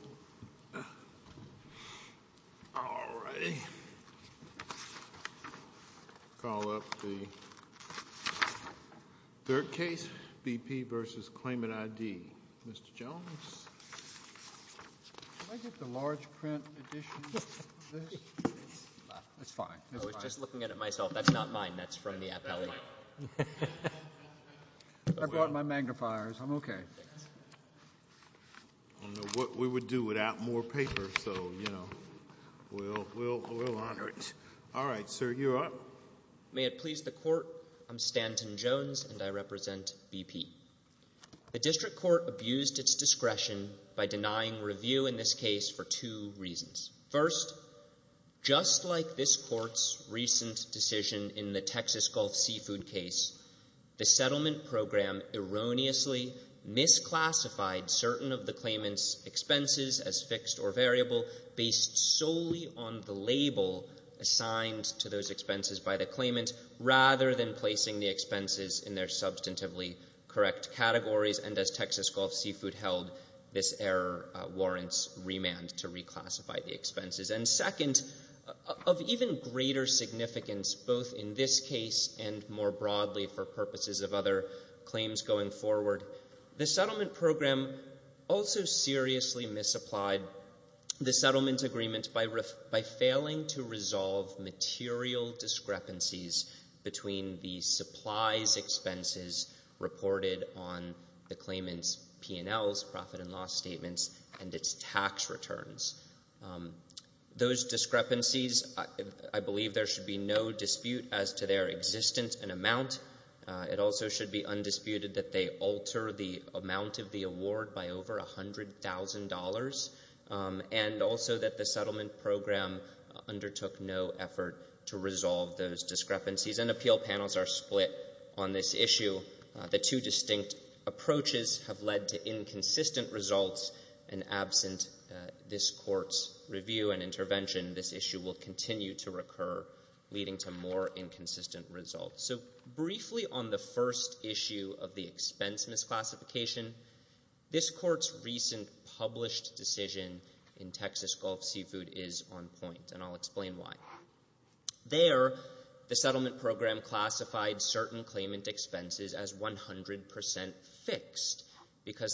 All right. I'll call up the third case, BP v. Claimant ID. Mr. Jones, can I get the large print edition of this? It's fine. I was just looking at it myself. That's not mine. That's what we'll do without more paper, so we'll honor it. All right, sir, you're up. May it please the Court, I'm Stanton Jones, and I represent BP. The District Court abused its discretion by denying review in this case for two reasons. First, just like this Court's recent decision in the Texas Gulf Seafood case, the settlement program erroneously misclassified certain of the claimant's expenses as fixed or variable based solely on the label assigned to those expenses by the claimant rather than placing the expenses in their substantively correct categories, and as Texas Gulf Seafood held, this error warrants remand to reclassify the expenses. And second, of even greater significance, both in this case and more broadly for purposes of other claims going forward, the settlement program also seriously misapplied the settlement agreement by failing to resolve material discrepancies between the supplies expenses reported on the claimant's P&Ls, profit and loss statements, and its tax returns. Those discrepancies, I believe there should be no dispute as to their existence and amount. It also should be undisputed that they alter the amount of the award by over $100,000, and also that the settlement program undertook no effort to resolve those discrepancies, and appeal panels are split on this issue. The two distinct approaches have led to inconsistent results, and absent this Court's review and intervention, this issue will continue to recur, leading to more inconsistent results. So briefly on the first issue of the expense misclassification, this Court's recent published decision in Texas Gulf Seafood is on point, and I'll explain why. There, the settlement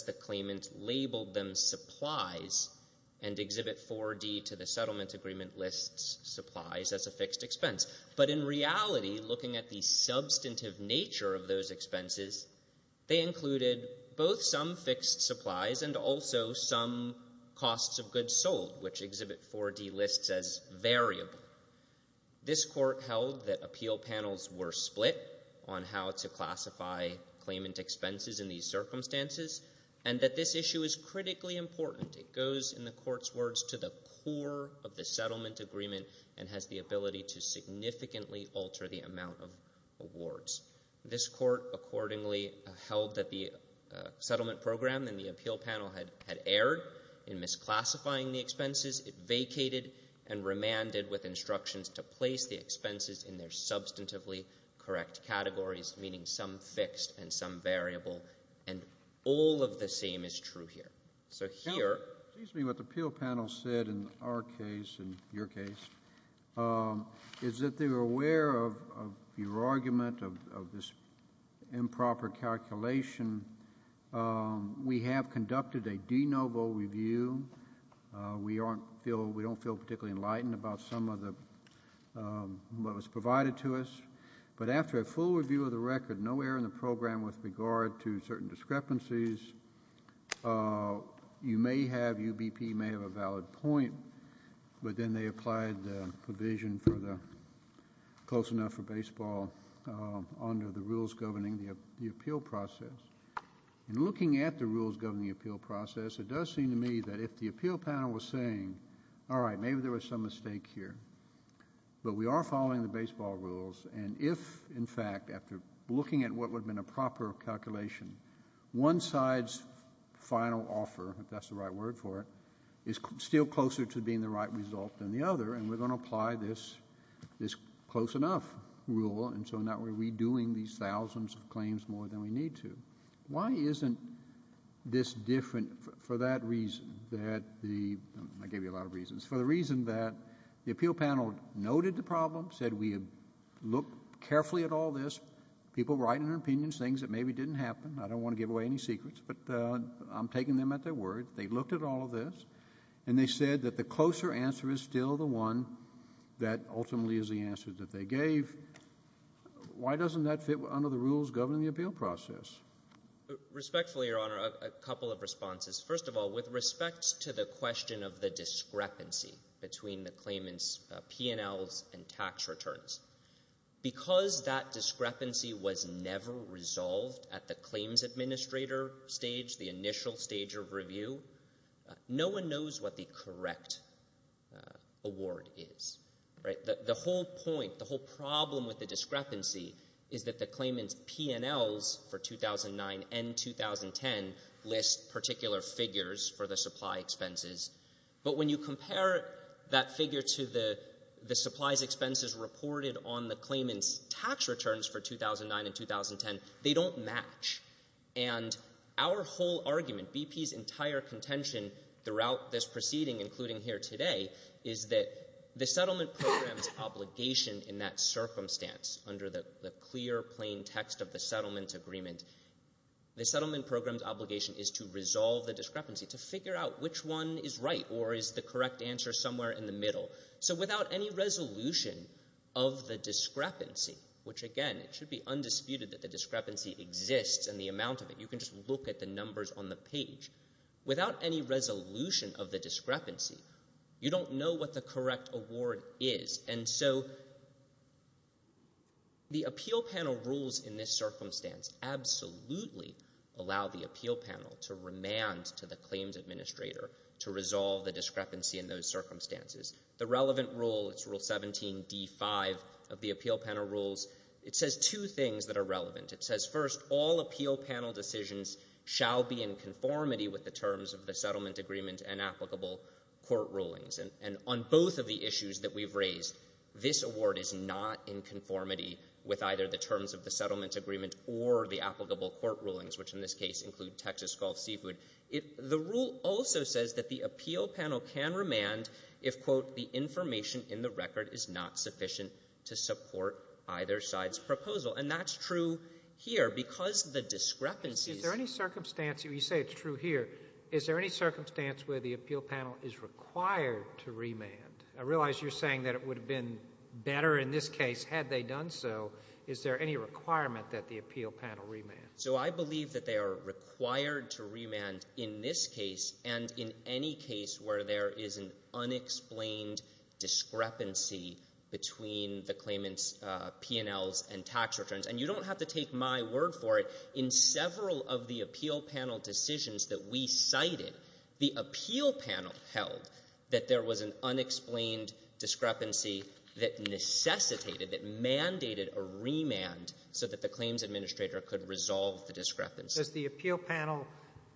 agreement labeled them supplies, and Exhibit 4D to the settlement agreement lists supplies as a fixed expense. But in reality, looking at the substantive nature of those expenses, they included both some fixed supplies and also some costs of goods sold, which Exhibit 4D lists as variable. This Court held that appeal panels were split on how to classify claimant expenses in these circumstances, and that this issue is critically important. It goes, in the Court's words, to the core of the settlement agreement, and has the ability to significantly alter the amount of awards. This Court accordingly held that the settlement program and the appeal panel had erred in misclassifying the expenses. It vacated and remanded with instructions to place the expenses in their substantively correct categories, meaning some fixed and some variable, and all of the same is true here. So here... Counsel, excuse me. What the appeal panel said in our case, in your case, is that they were aware of your argument of this improper calculation. We have conducted a de novo review. We don't feel particularly enlightened about some of what was provided to us. But after a full review of the record, no error in the program with regard to certain discrepancies, you may have, UBP may have a valid point, but then they applied the provision for the close enough for baseball under the rules governing the appeal process. In looking at the rules governing the appeal process, it does seem to me that if the appeal panel was saying, all right, maybe there was some mistake here, but we are following the fact, after looking at what would have been a proper calculation, one side's final offer, if that's the right word for it, is still closer to being the right result than the other, and we're going to apply this close enough rule, and so now we're redoing these thousands of claims more than we need to. Why isn't this different for that reason, that the — I gave you a lot of reasons — for the reason that the appeal panel noted the problem, said we looked carefully at all this, people writing their opinions, things that maybe didn't happen. I don't want to give away any secrets, but I'm taking them at their word. They looked at all of this, and they said that the closer answer is still the one that ultimately is the answer that they gave. Why doesn't that fit under the rules governing the appeal process? Respectfully, Your Honor, a couple of responses. First of all, with respect to the question of the discrepancy between the claimant's P&Ls and tax returns, because that discrepancy was never resolved at the claims administrator stage, the initial stage of review, no one knows what the correct award is. The whole point, the whole problem with the discrepancy is that the claimant's P&Ls for 2009 and 2010 list particular figures for the supply expenses. But when you compare that figure to the supplies expenses reported on the claimant's tax returns for 2009 and 2010, they don't match. And our whole argument, BP's entire contention throughout this proceeding, including here today, is that the settlement program's obligation under that circumstance, under the clear, plain text of the settlement agreement, the settlement program's obligation is to resolve the discrepancy, to figure out which one is right or is the correct answer somewhere in the middle. So without any resolution of the discrepancy, which again, it should be undisputed that the discrepancy exists and the amount of it. You can just look at the numbers on the page. Without any resolution of the discrepancy, you don't know what the correct award is. And so the appeal panel rules in this circumstance absolutely allow the appeal panel to remand to the claims administrator to resolve the discrepancy in those circumstances. The relevant rule, it's Rule 17d5 of the appeal panel rules, it says two things that are relevant. It says first, all appeal panel decisions shall be in conformity with the terms of the settlement agreement and applicable court rulings. And on both of the issues that we've raised, this award is not in conformity with either the terms of the settlement agreement or the applicable court rulings, which in this case include Texas Gulf Seafood. The rule also says that the appeal panel can remand if, quote, the information in the record is not sufficient to support either side's proposal. And that's true here, because the discrepancy... Is there any circumstance, you say it's true here, is there any circumstance where the appeal panel is required to remand? I realize you're saying that it would have been better in this case had they done so. Is there any requirement that the appeal panel remand? So I believe that they are required to remand in this case and in any case where there is an unexplained discrepancy between the claimant's P&Ls and tax returns. And you don't have to take my word for it. In several of the appeal panel decisions that we cited, the appeal panel held that there was an unexplained discrepancy that necessitated, that mandated a remand so that the claims administrator could resolve the discrepancy. Does the appeal panel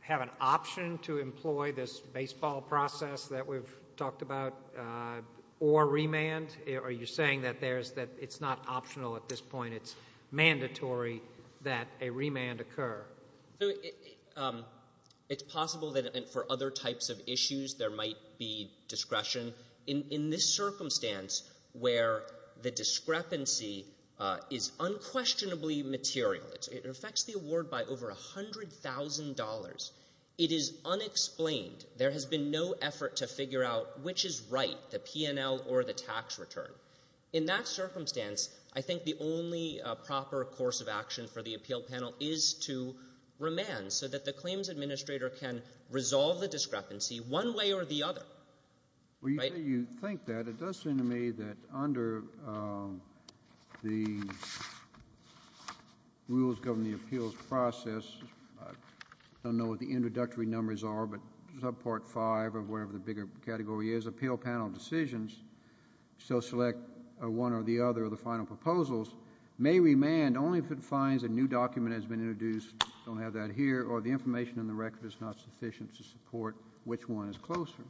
have an option to employ this baseball process that we've talked about or remand? Are you saying that it's not optional at this point, it's mandatory that a remand occur? It's possible that for other types of issues there might be discretion. In this circumstance where the discrepancy is unquestionably material, it affects the award by over $100,000, it is unexplained. There has been no effort to figure out which is right, the P&L or the tax return. In that circumstance, I think the only proper course of action for the appeal panel is to remand so that the claims administrator can resolve the discrepancy one way or the other. You say you think that. It does seem to me that under the rules governing the appeals process, I don't know what the introductory numbers are, but subpart 5 or whatever the bigger category is, appeal panel decisions, so select one or the other of the final proposals, may remand only if it finds a new document has been introduced, don't have that here, or the information in the record is not sufficient to support which one is closer.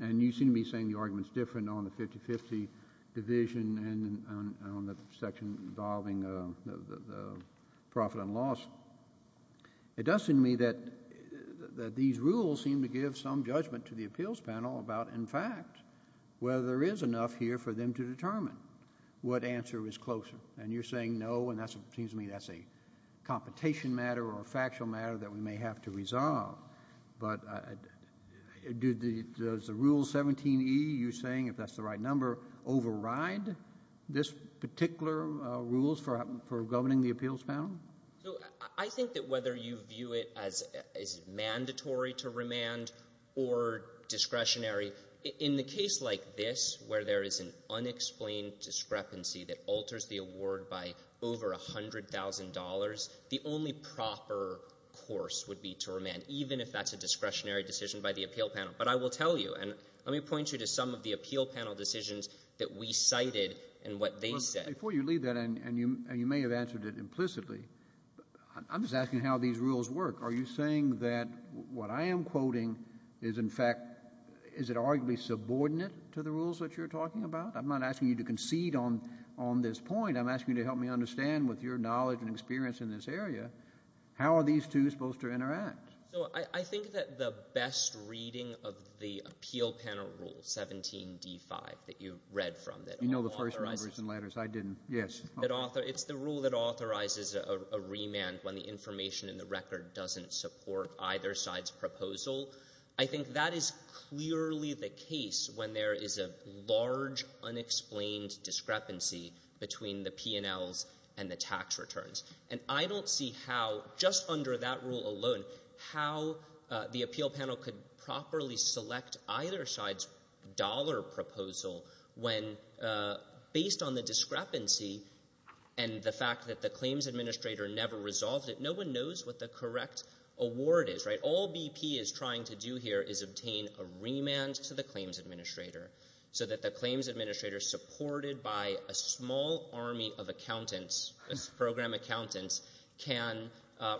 And you seem to be saying the argument is different on the 50-50 division and on the section involving the profit and loss. It does seem to me that these rules seem to give some judgment to the appeals panel about, in fact, whether there is enough here for them to determine what answer is closer. And you're saying no, and it seems to me that's a competition matter or a factual matter that we may have to resolve. But does the Rule 17e, you're saying, if that's the right number, override this particular rule for governing the appeals panel? I think that whether you view it as mandatory to remand or discretionary, in the case like this where there is an unexplained discrepancy that alters the award by over $100,000, the only proper course would be to remand, even if that's a discretionary decision by the appeal panel. But I will tell you, and let me point you to some of the appeal panel decisions that we cited and what they said. Before you leave that, and you may have answered it implicitly, I'm just asking how these rules work. Are you saying that what I am quoting is, in fact, is it arguably subordinate to the rules that you're talking about? I'm not asking you to concede on this point. I'm asking you to help me understand, with your knowledge and experience in this area, how are these two supposed to interact? So I think that the best reading of the appeal panel rule, 17d5, that you read from, that authorizes the rule that authorizes a remand when the information in the record doesn't support either side's proposal, I think that is clearly the case when there is a large unexplained discrepancy between the P&Ls and the tax returns. And I don't see how, just under that rule alone, how the appeal panel could properly select either side's dollar proposal when, based on the discrepancy and the fact that the claims administrator never resolved it, no one knows what the correct award is. All BP is trying to do here is obtain a remand to the claims administrator so that the claims administrator, supported by a small army of accountants, program accountants, can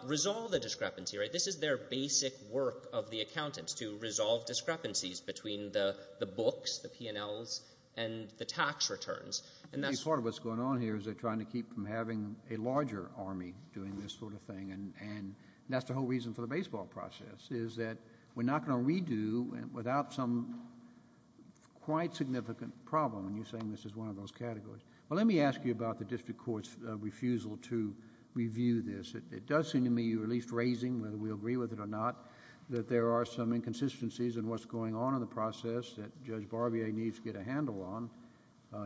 resolve the discrepancy, right? This is their basic work of the accountants, to resolve discrepancies between the books, the P&Ls, and the tax returns, and that's... I think part of what's going on here is they're trying to keep from having a larger army doing this sort of thing, and that's the whole reason for the baseball process, is that we're not going to redo without some quite significant problem, and you're saying this is one of those categories. Well, let me ask you about the district court's refusal to review this. It does seem to me, you released Raising, whether we agree with it or not, that there are some inconsistencies in what's going on in the process that Judge Barbier needs to get a handle on.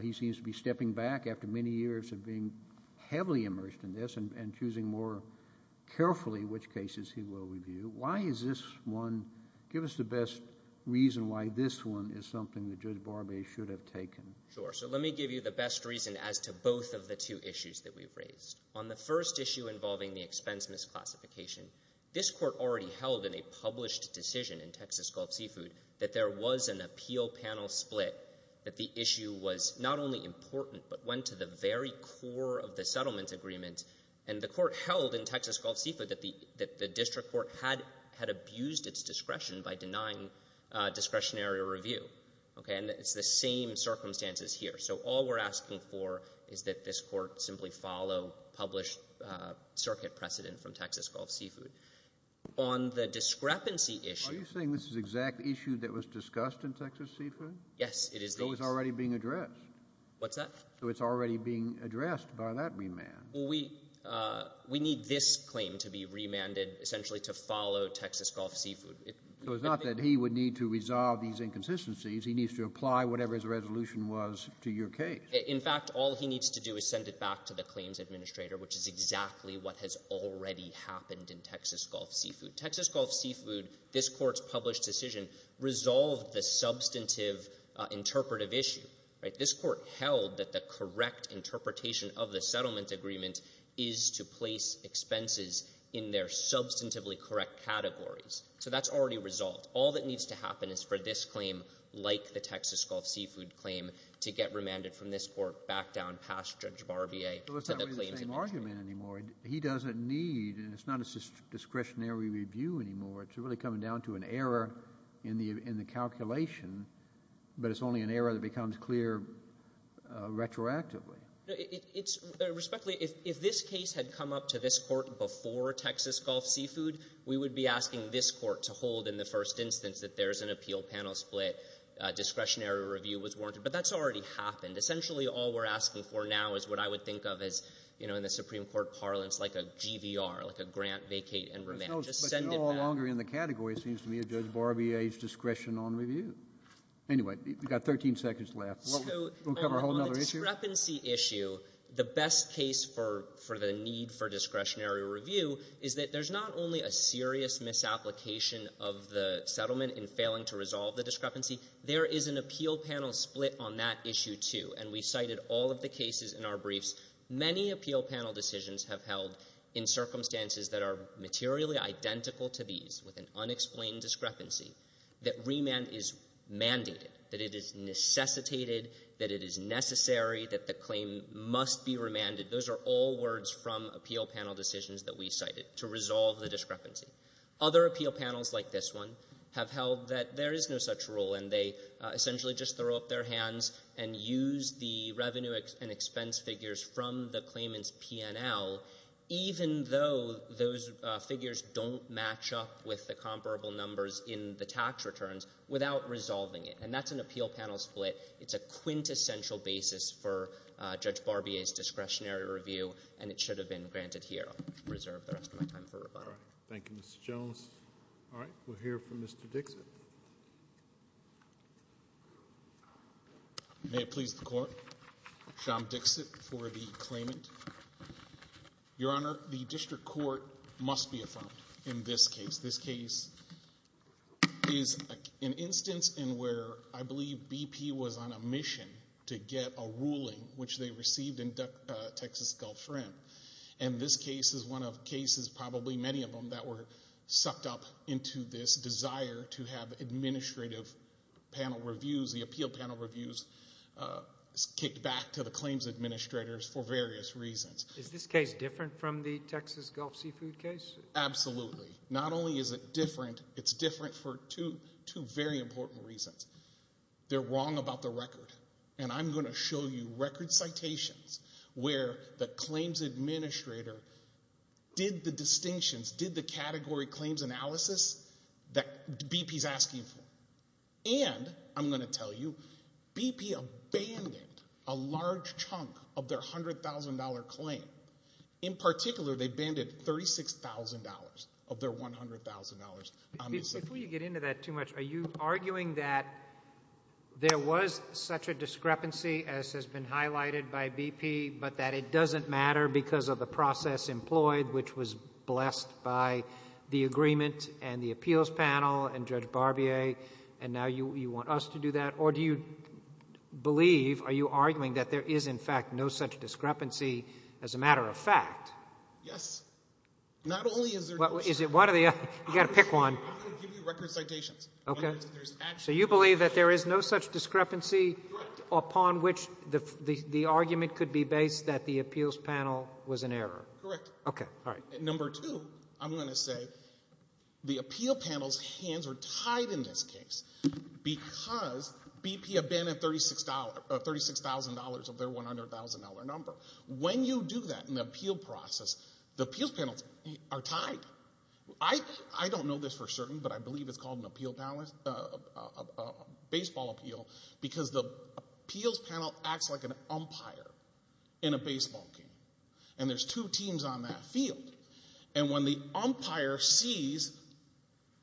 He seems to be stepping back after many years of being heavily immersed in this and choosing more than one. Give us the best reason why this one is something that Judge Barbier should have taken. Sure. So let me give you the best reason as to both of the two issues that we've raised. On the first issue involving the expense misclassification, this Court already held in a published decision in Texas Gulf Seafood that there was an appeal panel split, that the issue was not only important but went to the very core of the settlement agreement, and the Court held in Texas Gulf discretion by denying discretionary review. Okay? And it's the same circumstances here. So all we're asking for is that this Court simply follow published circuit precedent from Texas Gulf Seafood. On the discrepancy issue Are you saying this is the exact issue that was discussed in Texas Seafood? Yes, it is. So it's already being addressed. What's that? So it's already being addressed by that remand. Well, we need this claim to be remanded essentially to follow Texas Gulf Seafood. So it's not that he would need to resolve these inconsistencies. He needs to apply whatever his resolution was to your case. In fact, all he needs to do is send it back to the claims administrator, which is exactly what has already happened in Texas Gulf Seafood. Texas Gulf Seafood, this Court's published decision, resolved the substantive interpretive issue. This Court held that the correct interpretation of the settlement agreement is to place expenses in their substantively correct categories. So that's already resolved. All that needs to happen is for this claim, like the Texas Gulf Seafood claim, to get remanded from this Court back down past Judge Barbier to the claims administrator. Well, it's not really the same argument anymore. He doesn't need, and it's not a discretionary review anymore. It's really coming down to an error in the calculation, but it's only an error that becomes clear retroactively. It's respectfully, if this case had come up to this Court before Texas Gulf Seafood, we would be asking this Court to hold in the first instance that there's an appeal panel split. Discretionary review was warranted. But that's already happened. Essentially, all we're asking for now is what I would think of as, you know, in the Supreme Court parlance, like a GVR, like a grant, vacate, and remand. Just send it back. But you're no longer in the category, it seems to me, of Judge Barbier's discretion on review. Anyway, you've got 13 seconds left. We'll cover a whole other issue. On the discrepancy issue, the best case for the need for discretionary review is that there's not only a serious misapplication of the settlement in failing to resolve the discrepancy, there is an appeal panel split on that issue, too. And we cited all of the cases in our briefs. Many appeal panel decisions have held in circumstances that are materially identical to these, with an unexplained discrepancy, that remand is mandated, that it is necessitated, that it is necessary, that the claim must be remanded. Those are all words from appeal panel decisions that we cited to resolve the discrepancy. Other appeal panels like this one have held that there is no such rule, and they essentially just throw up their hands and use the revenue and expense figures from the claimant's P&L, even though those figures don't match up with the comparable numbers in the tax returns, without resolving it. And that's an appeal panel split. It's a quintessential basis for Judge Barbier's discretionary review, and it should have been granted here. I'll reserve the rest of my time for rebuttal. Thank you, Mr. Jones. All right. We'll hear from Mr. Dixit. May it please the Court. Sean Dixit for the claimant. Your Honor, the district court must be affirmed in this case. This case is an instance in where I believe BP was on a mission to get a ruling, which they received in Texas Gulf Rim. And this case is one of cases, probably many of them, that were sucked up into this desire to have administrative panel reviews, the appeal panel reviews, kicked back to the claims administrators for various reasons. Is this case different from the Texas Gulf Seafood case? Absolutely. Not only is it different, it's different for two very important reasons. They're wrong about the record. And I'm going to show you record citations where the claims administrator did the distinctions, did the category claims analysis that BP's asking for. And I'm going to tell you, BP abandoned a large chunk of their $100,000 claim to the claimant. In particular, they abandoned $36,000 of their $100,000 on this case. Before you get into that too much, are you arguing that there was such a discrepancy as has been highlighted by BP, but that it doesn't matter because of the process employed, which was blessed by the agreement and the appeals panel and Judge Barbier, and now you want us to do that? Or do you believe, are you arguing that there is, in fact, no such matter of fact? Yes. Not only is there no such matter of fact, I'm going to give you record citations. So you believe that there is no such discrepancy upon which the argument could be based that the appeals panel was in error? Correct. Okay. All right. Number two, I'm going to say the appeal panel's hands are tied in this case because BP abandoned $36,000 of their $100,000 number. When you do that in the appeal process, the appeals panels are tied. I don't know this for certain, but I believe it's called a baseball appeal because the appeals panel acts like an umpire in a baseball game, and there's two teams on that field. And when the umpire sees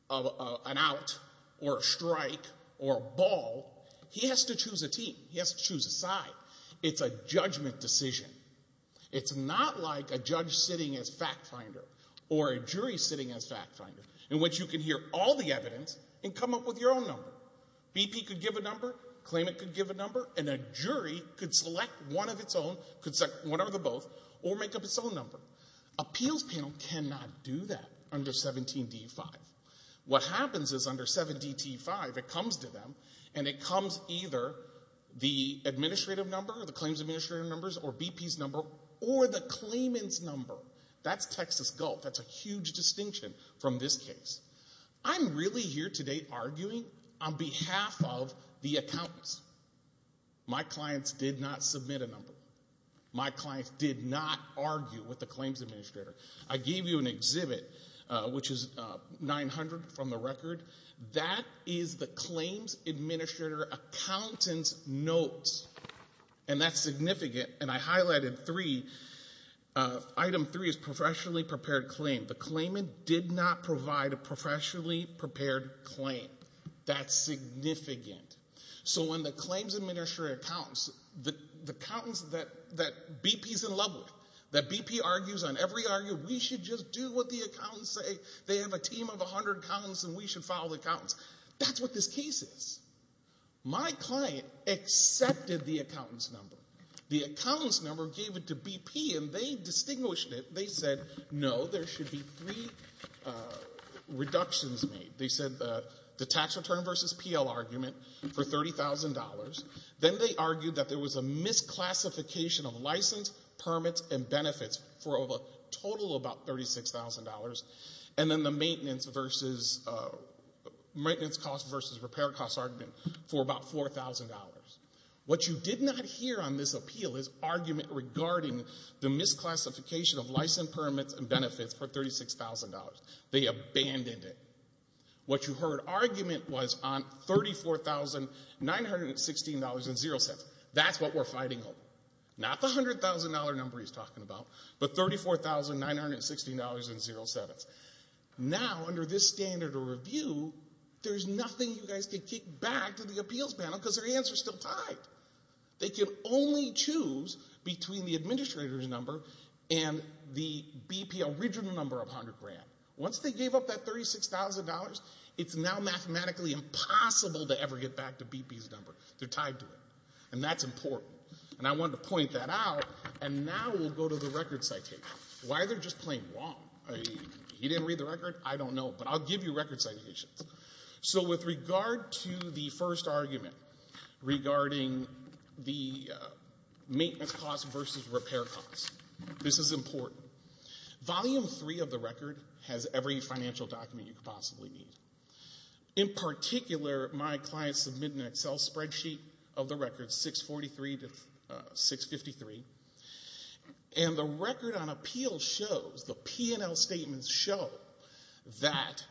an out or a strike or a ball, he has to choose a team. He has to choose a side. It's a judgment decision. It's not like a judge sitting as fact finder or a jury sitting as fact finder in which you can hear all the evidence and come up with your own number. BP could give a number, claimant could give a number, and appeals panel cannot do that under 17D5. What happens is under 17D5, it comes to them and it comes either the administrative number or the claims administrative numbers or BP's number or the claimant's number. That's Texas Gulf. That's a huge distinction from this case. I'm really here today arguing on behalf of the accountants. My clients did not submit a number. My clients did not argue with the claims administrator. I gave you an exhibit, which is 900 from the record. That is the claims administrator accountant's notes, and that's significant. And I highlighted three. Item three is professionally prepared claim. The claimant did not provide a professionally prepared claim. That's significant. So when the claims administrator accountants, the accountants that BP's in love with, that BP argues on every argument, we should just do what the accountants say. They have a team of 100 accountants and we should follow the accountants. That's what this case is. My client accepted the accountant's number. The accountant's number gave it to BP and they distinguished it. They said, no, there should be three reductions made. They said the tax return versus PL argument for $30,000. Then they argued that there was a misclassification of license, permits, and benefits for a total of about $36,000. And then the maintenance versus, maintenance cost versus repair cost argument for about $4,000. What you did not hear on this appeal is argument regarding the misclassification of license, permits, and benefits for $36,000. They abandoned it. What you heard argument was on $34,916.07. That's what we're fighting over. Not the $100,000 number he's talking about, but $34,916.07. Now, under this standard of review, there's nothing you guys can kick back to the appeals panel because their hands are still tied. They can only choose between the administrator's number and the BP original number of $100,000. Once they gave up that $36,000, it's now mathematically impossible to ever get back to BP's number. They're tied to it. And that's important. And I wanted to point that out. And now we'll go to the record citation. Why are they just plain wrong? He didn't read the record? I don't know. But I'll give you record citations. So with regard to the first argument regarding the maintenance costs versus repair costs, this is important. Volume 3 of the record has every financial document you could possibly need. In particular, my clients submitted an Excel spreadsheet of the record 643 to 653. And the record on appeal shows, the P&L statements show that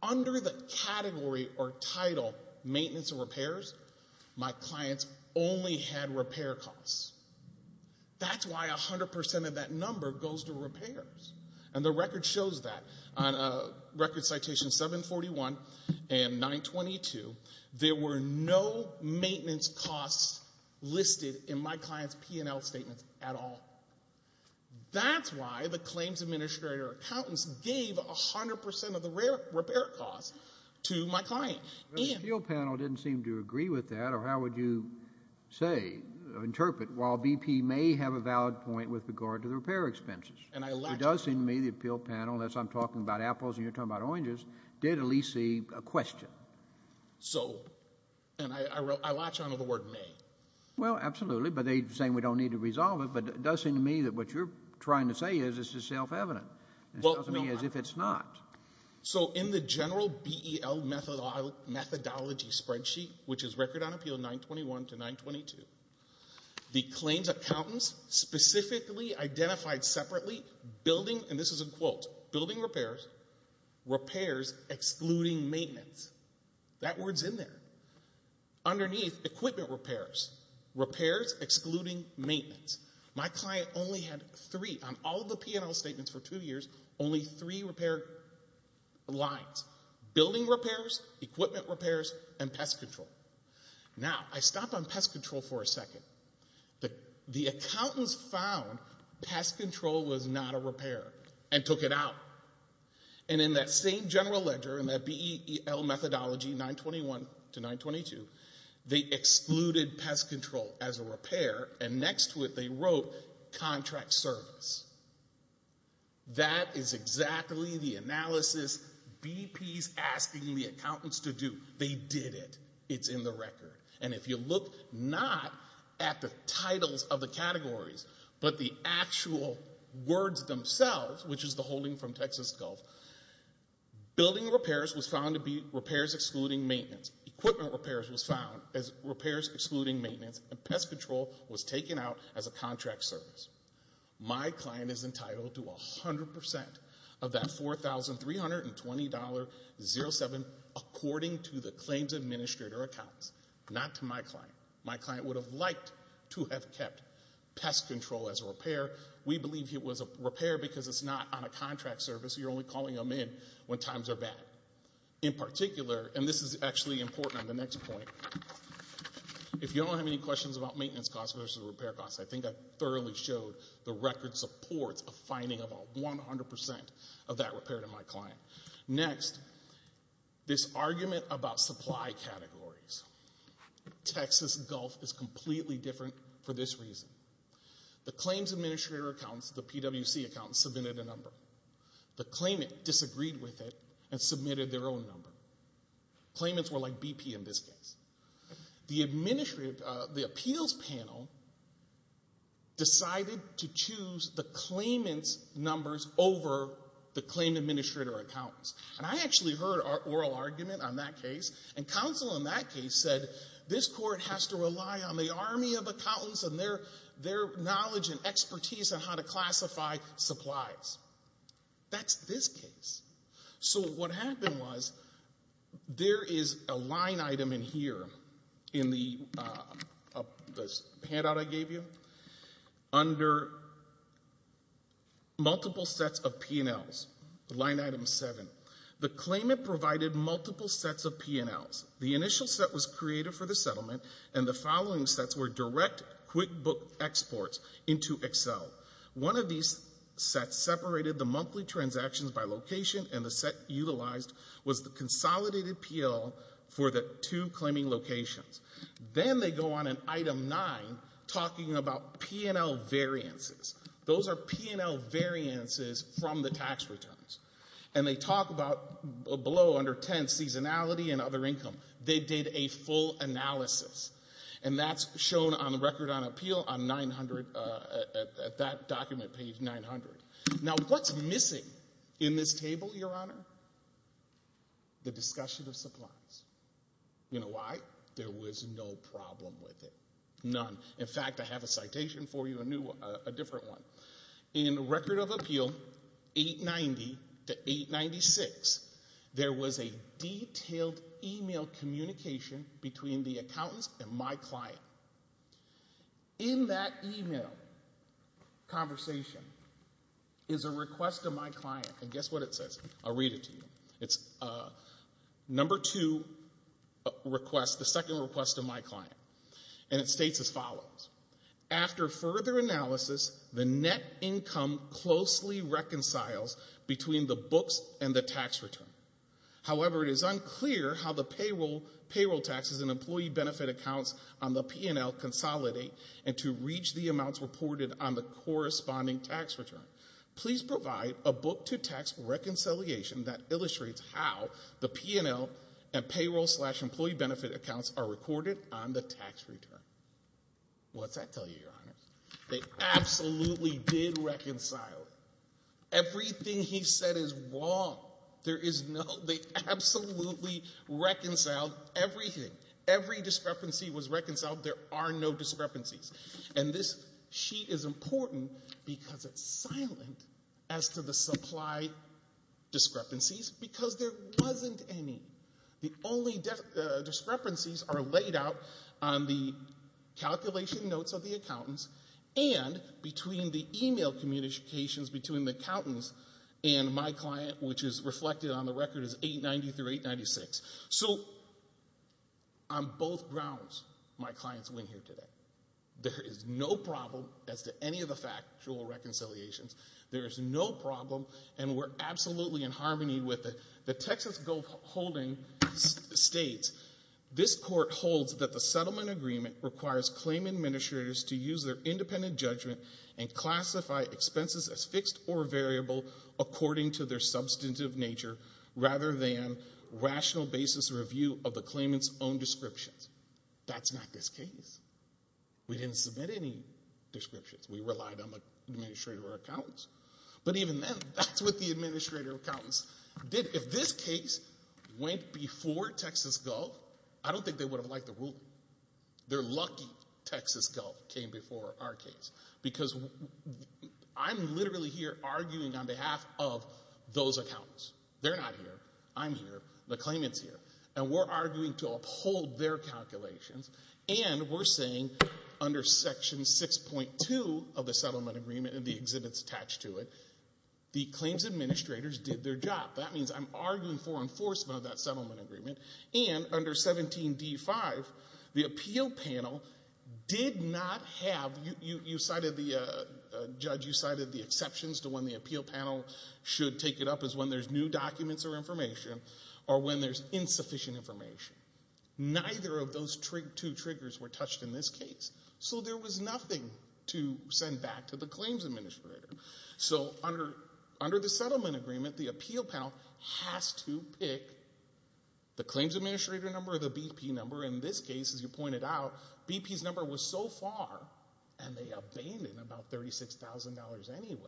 under the category or title maintenance and repairs, my clients only had repair costs. That's why 100% of that number goes to repairs. And the record shows that. On record citation 741 and 922, there were no maintenance costs listed in my client's P&L statements at all. That's why the claims administrator accountants gave 100% of the repair costs to my client. This appeal panel didn't seem to agree with that. Or how would you say, interpret, while BP may have a valid point with regard to the repair expenses? It does seem to me the appeal panel, unless I'm talking about apples and you're talking about oranges, did at least see a question. So, and I latch on to the word may. Well, absolutely, but they're saying we don't need to resolve it, but it does seem to me that what you're trying to say is this is self-evident. Well, no. It sounds to me as if it's not. So in the general BEL methodology spreadsheet, which is record on appeal 921 to 922, the claims accountants specifically identified separately building, and this is in quotes, building repairs, repairs excluding maintenance. That word's in there. Underneath, equipment repairs. Repairs excluding maintenance. My client only had three, on all of the P&L statements for two years, only three repair lines. Building repairs, equipment repairs, and pest control. Now, I stop on pest control for a second. The accountants found pest control was not a repair and took it out. And in that same general ledger, in that BEL methodology 921 to 922, they excluded pest control as a repair, and next to it they wrote contract service. That is exactly the analysis BP's asking the accountants to do. It's in the record. And if you look not at the titles of the categories, but the actual words themselves, which is the holding from Texas Gulf, building repairs was found to be repairs excluding maintenance. Equipment repairs was found as repairs excluding maintenance. And pest control was taken out as a contract service. My client is entitled to 100% of that $4,320.07 according to the claims administrator accountants. Not to my client. My client would have liked to have kept pest control as a repair. We believe it was a repair because it's not on a contract service. You're only calling them in when times are bad. In particular, and this is actually important on the next point, if you don't have any questions about maintenance costs versus repair costs, I think I thoroughly showed the record supports of finding about 100% of that repair to my client. Next, this argument about supply categories. Texas Gulf is completely different for this reason. The claims administrator accountants, the PWC accountants, submitted a number. The claimant disagreed with it and submitted their own number. Claimants were like BP in this case. The appeals panel decided to choose the claimant's numbers over the claim administrator accountants. And I actually heard an oral argument on that case. And counsel in that case said this court has to rely on the army of accountants and their knowledge and expertise on how to classify supplies. That's this case. So what happened was there is a line item in here in the handout I gave you under multiple sets of P&Ls, line item 7. The claimant provided multiple sets of P&Ls. The initial set was created for the settlement, and the following sets were direct QuickBook exports into Excel. One of these sets separated the monthly transactions by location, and the set utilized was the consolidated P&L for the two claiming locations. Then they go on in item 9 talking about P&L variances. Those are P&L variances from the tax returns. And they talk about below, under 10, seasonality and other income. They did a full analysis. And that's shown on the Record on Appeal at that document, page 900. Now, what's missing in this table, Your Honor? The discussion of supplies. You know why? There was no problem with it, none. In fact, I have a citation for you, a different one. In Record of Appeal 890 to 896, there was a detailed e-mail communication between the accountants and my client. In that e-mail conversation is a request of my client. And guess what it says. I'll read it to you. It's number two request, the second request of my client. And it states as follows. The net income closely reconciles between the books and the tax return. However, it is unclear how the payroll taxes and employee benefit accounts on the P&L consolidate and to reach the amounts reported on the corresponding tax return. Please provide a book to tax reconciliation that illustrates how the P&L and payroll slash employee benefit accounts are recorded on the tax return. What's that tell you, Your Honor? They absolutely did reconcile it. Everything he said is wrong. There is no, they absolutely reconciled everything. Every discrepancy was reconciled. There are no discrepancies. And this sheet is important because it's silent as to the supply discrepancies because there wasn't any. The only discrepancies are laid out on the calculation notes of the accountants and between the e-mail communications between the accountants and my client, which is reflected on the record as 890 through 896. So on both grounds, my clients win here today. There is no problem as to any of the factual reconciliations. There is no problem, and we're absolutely in harmony with it. As Gove Holding states, this court holds that the settlement agreement requires claim administrators to use their independent judgment and classify expenses as fixed or variable according to their substantive nature rather than rational basis review of the claimant's own descriptions. That's not this case. We didn't submit any descriptions. We relied on the administrator or accountants. But even then, that's what the administrator or accountants did. If this case went before Texas Gove, I don't think they would have liked the ruling. They're lucky Texas Gove came before our case because I'm literally here arguing on behalf of those accountants. They're not here. I'm here. The claimant's here. And we're arguing to uphold their calculations, and we're saying under Section 6.2 of the settlement agreement and the exhibits attached to it, the claims administrators did their job. That means I'm arguing for enforcement of that settlement agreement. And under 17.d.5, the appeal panel did not have... You cited the... Judge, you cited the exceptions to when the appeal panel should take it up is when there's new documents or information or when there's insufficient information. Neither of those two triggers were touched in this case. So there was nothing to send back to the claims administrator. So under the settlement agreement, the appeal panel has to pick the claims administrator number or the BP number. In this case, as you pointed out, BP's number was so far, and they abandoned about $36,000 anyway,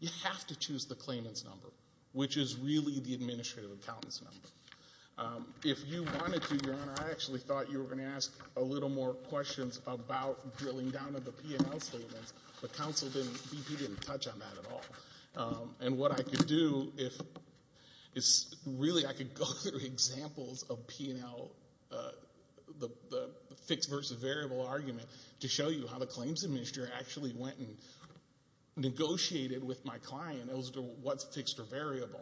you have to choose the claimant's number, which is really the administrative accountant's number. If you wanted to, Your Honor, I actually thought you were going to ask a little more questions about drilling down on the P&L statements, but BP didn't touch on that at all. And what I could do is really I could go through examples of P&L, the fixed versus variable argument, to show you how the claims administrator actually went and negotiated with my client as to what's fixed or variable.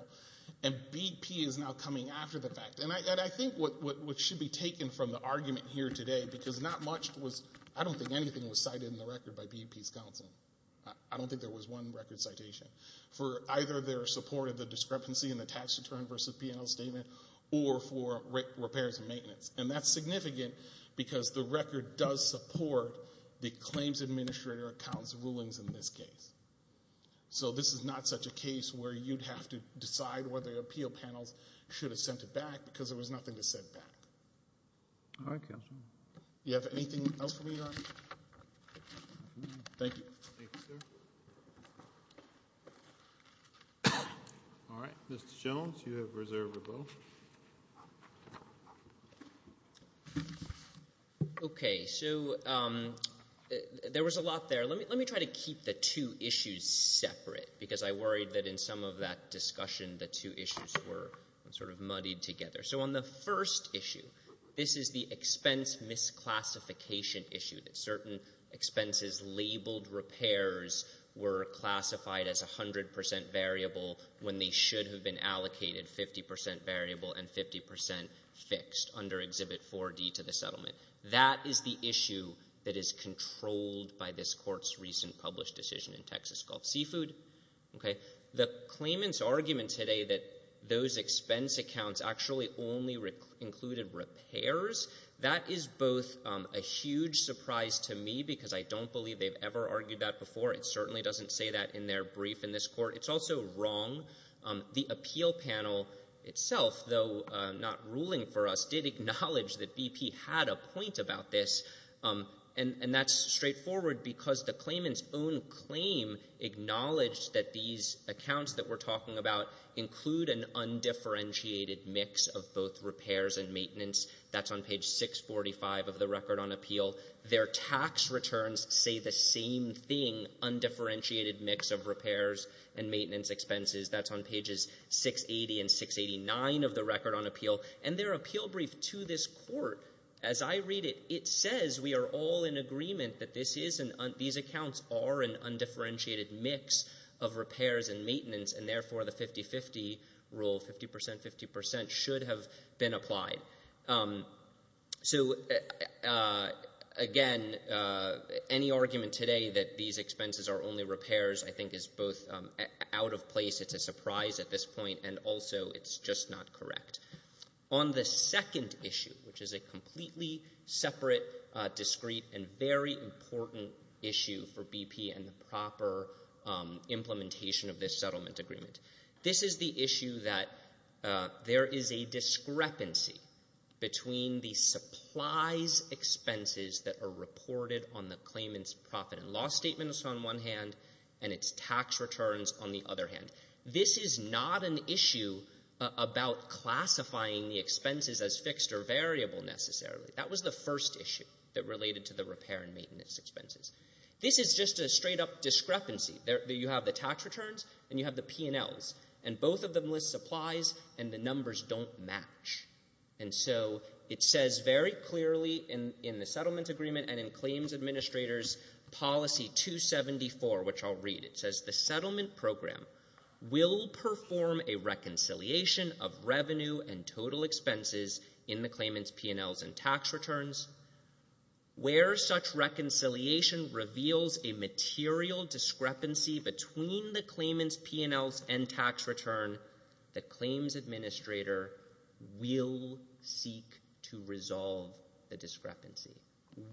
And BP is now coming after the fact. And I think what should be taken from the argument here today, I don't think anything was cited in the record by BP's counsel. I don't think there was one record citation for either their support of the discrepancy in the tax return versus P&L statement or for repairs and maintenance. And that's significant because the record does support the claims administrator accountant's rulings in this case. So this is not such a case where you'd have to decide whether the appeal panels should have sent it back because there was nothing to send back. All right, counsel. Do you have anything else for me, Don? Thank you. Thank you, sir. All right, Mr. Jones, you have reserve of vote. Okay, so there was a lot there. Let me try to keep the two issues separate because I worried that in some of that discussion the two issues were sort of muddied together. So on the first issue, this is the expense misclassification issue that certain expenses labeled repairs were classified as 100% variable when they should have been allocated 50% variable and 50% fixed under Exhibit 4D to the settlement. That is the issue that is controlled by this court's recent published decision in Texas Gulf Seafood. The claimant's argument today that those expense accounts actually only included repairs, that is both a huge surprise to me because I don't believe they've ever argued that before. It certainly doesn't say that in their brief in this court. It's also wrong. The appeal panel itself, though not ruling for us, did acknowledge that BP had a point about this, and that's straightforward because the claimant's own claim acknowledged that these accounts that we're talking about include an undifferentiated mix of both repairs and maintenance. That's on page 645 of the record on appeal. Their tax returns say the same thing, undifferentiated mix of repairs and maintenance expenses. That's on pages 680 and 689 of the record on appeal. And their appeal brief to this court, as I read it, it says we are all in agreement that these accounts are an undifferentiated mix of repairs and maintenance, and therefore the 50-50 rule, 50%-50%, should have been applied. So, again, any argument today that these expenses are only repairs I think is both out of place. It's a surprise at this point, and also it's just not correct. On the second issue, which is a completely separate, discrete, and very important issue for BP and the proper implementation of this settlement agreement, this is the issue that there is a discrepancy between the supplies expenses that are reported on the claimant's profit and loss statements on one hand and its tax returns on the other hand. This is not an issue about classifying the expenses as fixed or variable necessarily. That was the first issue that related to the repair and maintenance expenses. This is just a straight-up discrepancy. You have the tax returns and you have the P&Ls, and both of them list supplies and the numbers don't match. And so it says very clearly in the settlement agreement and in Claims Administrator's Policy 274, which I'll read, it says the settlement program will perform a reconciliation of revenue and total expenses in the claimant's P&Ls and tax returns. Where such reconciliation reveals a material discrepancy between the claimant's P&Ls and tax return, the Claims Administrator will seek to resolve the discrepancy.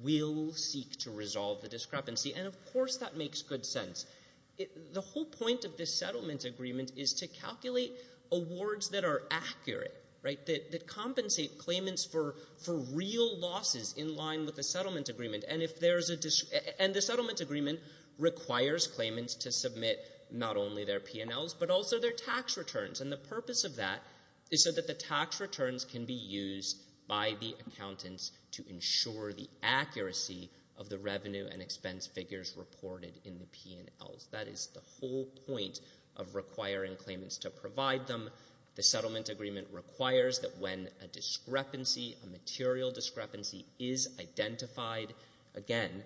Will seek to resolve the discrepancy. And, of course, that makes good sense. The whole point of this settlement agreement is to calculate awards that are accurate, right, that compensate claimants for real losses in line with the settlement agreement. And the settlement agreement requires claimants to submit not only their P&Ls but also their tax returns. And the purpose of that is so that the tax returns can be used by the accountants to ensure the accuracy of the revenue and expense figures reported in the P&Ls. That is the whole point of requiring claimants to provide them. The settlement agreement requires that when a discrepancy, a material discrepancy, is identified, again,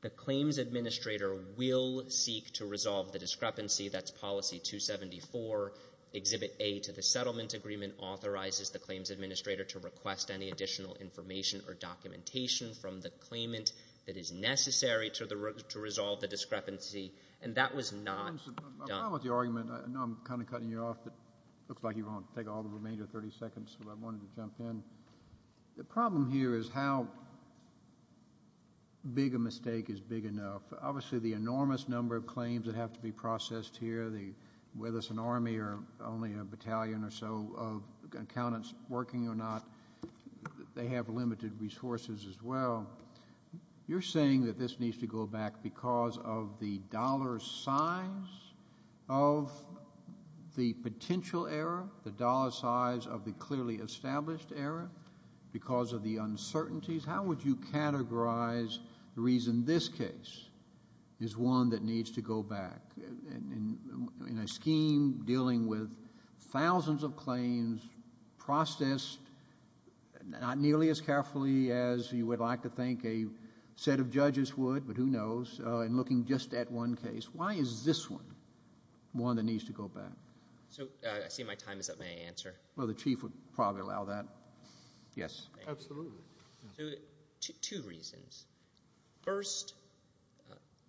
the Claims Administrator will seek to resolve the discrepancy. That's Policy 274, Exhibit A to the Settlement Agreement, authorizes the Claims Administrator to request any additional information or documentation from the claimant that is necessary to resolve the discrepancy. And that was not done. My problem with the argument, I know I'm kind of cutting you off, but it looks like you want to take all the remainder 30 seconds, so I wanted to jump in. The problem here is how big a mistake is big enough. Obviously the enormous number of claims that have to be processed here, whether it's an army or only a battalion or so of accountants working or not, they have limited resources as well. You're saying that this needs to go back because of the dollar size of the potential error, the dollar size of the clearly established error, because of the uncertainties. How would you categorize the reason this case is one that needs to go back? In a scheme dealing with thousands of claims processed not nearly as carefully as you would like to think a set of judges would, but who knows, in looking just at one case. Why is this one one that needs to go back? I see my time is up. May I answer? Well, the Chief would probably allow that. Yes. Absolutely. Two reasons. First,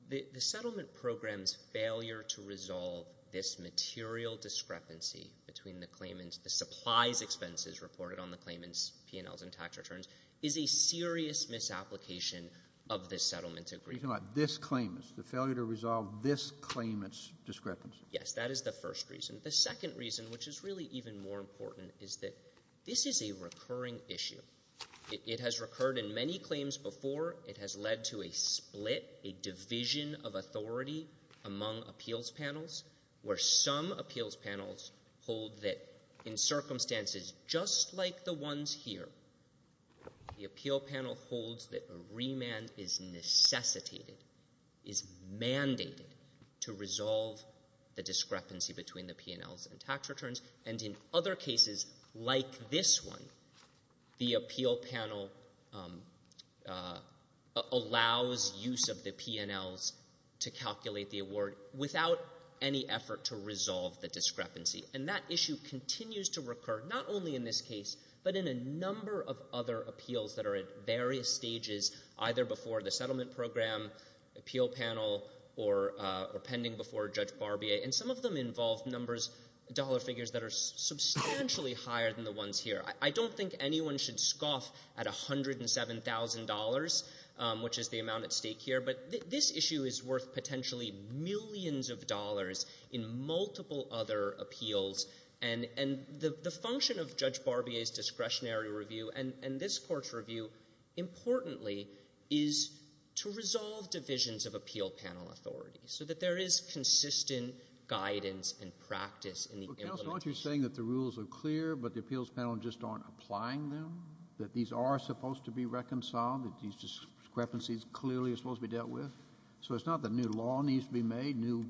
the settlement program's failure to resolve this material discrepancy between the claimant's supplies expenses reported on the claimant's P&Ls and tax returns is a serious misapplication of this settlement agreement. You're talking about this claimant's. The failure to resolve this claimant's discrepancy. Yes. That is the first reason. The second reason, which is really even more important, is that this is a recurring issue. It has recurred in many claims before. It has led to a split, a division of authority among appeals panels where some appeals panels hold that in circumstances just like the ones here, the appeal panel holds that a remand is necessitated, is mandated to resolve the discrepancy between the P&Ls and tax returns, and in other cases like this one, the appeal panel allows use of the P&Ls to calculate the award without any effort to resolve the discrepancy. And that issue continues to recur not only in this case but in a number of other appeals that are at various stages, either before the settlement program, appeal panel, or pending before Judge Barbier, and some of them involve dollar figures that are substantially higher than the ones here. I don't think anyone should scoff at $107,000, which is the amount at stake here, but this issue is worth potentially millions of dollars in multiple other appeals. And the function of Judge Barbier's discretionary review and this Court's review, importantly, is to resolve divisions of appeal panel authority so that there is consistent guidance and practice in the implementation. Kennedy. Well, Counsel, aren't you saying that the rules are clear but the appeals panel just aren't applying them, that these are supposed to be reconciled, that these discrepancies clearly are supposed to be dealt with? So it's not that new law needs to be made, new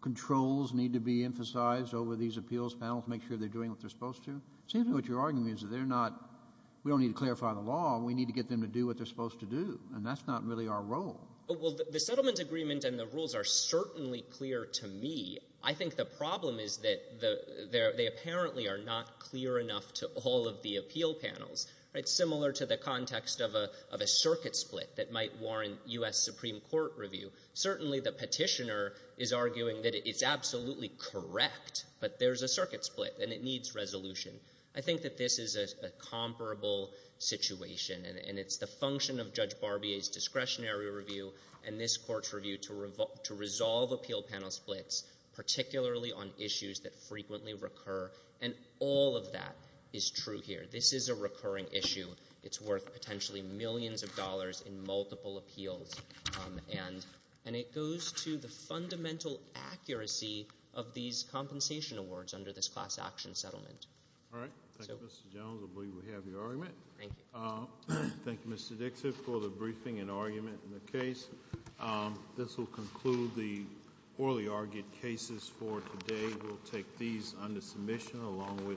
controls need to be emphasized over these appeals panels to make sure they're doing what they're supposed to? It seems to me what you're arguing is that they're not — we don't need to clarify the law, we need to get them to do what they're supposed to do, and that's not really our role. Well, the settlement agreement and the rules are certainly clear to me. I think the problem is that they apparently are not clear enough to all of the appeal panels. It's similar to the context of a circuit split that might warrant U.S. Supreme Court review. Certainly the petitioner is arguing that it's absolutely correct, but there's a circuit split and it needs resolution. I think that this is a comparable situation, and it's the function of Judge Barbier's discretionary review and this Court's review to resolve appeal panel splits, particularly on issues that frequently recur, and all of that is true here. This is a recurring issue. It's worth potentially millions of dollars in multiple appeals, and it goes to the fundamental accuracy of these compensation awards under this class action settlement. All right. Thank you, Mr. Jones. I believe we have your argument. Thank you. Thank you, Mr. Dixon, for the briefing and argument in the case. This will conclude the orally argued cases for today. We'll take these under submission along with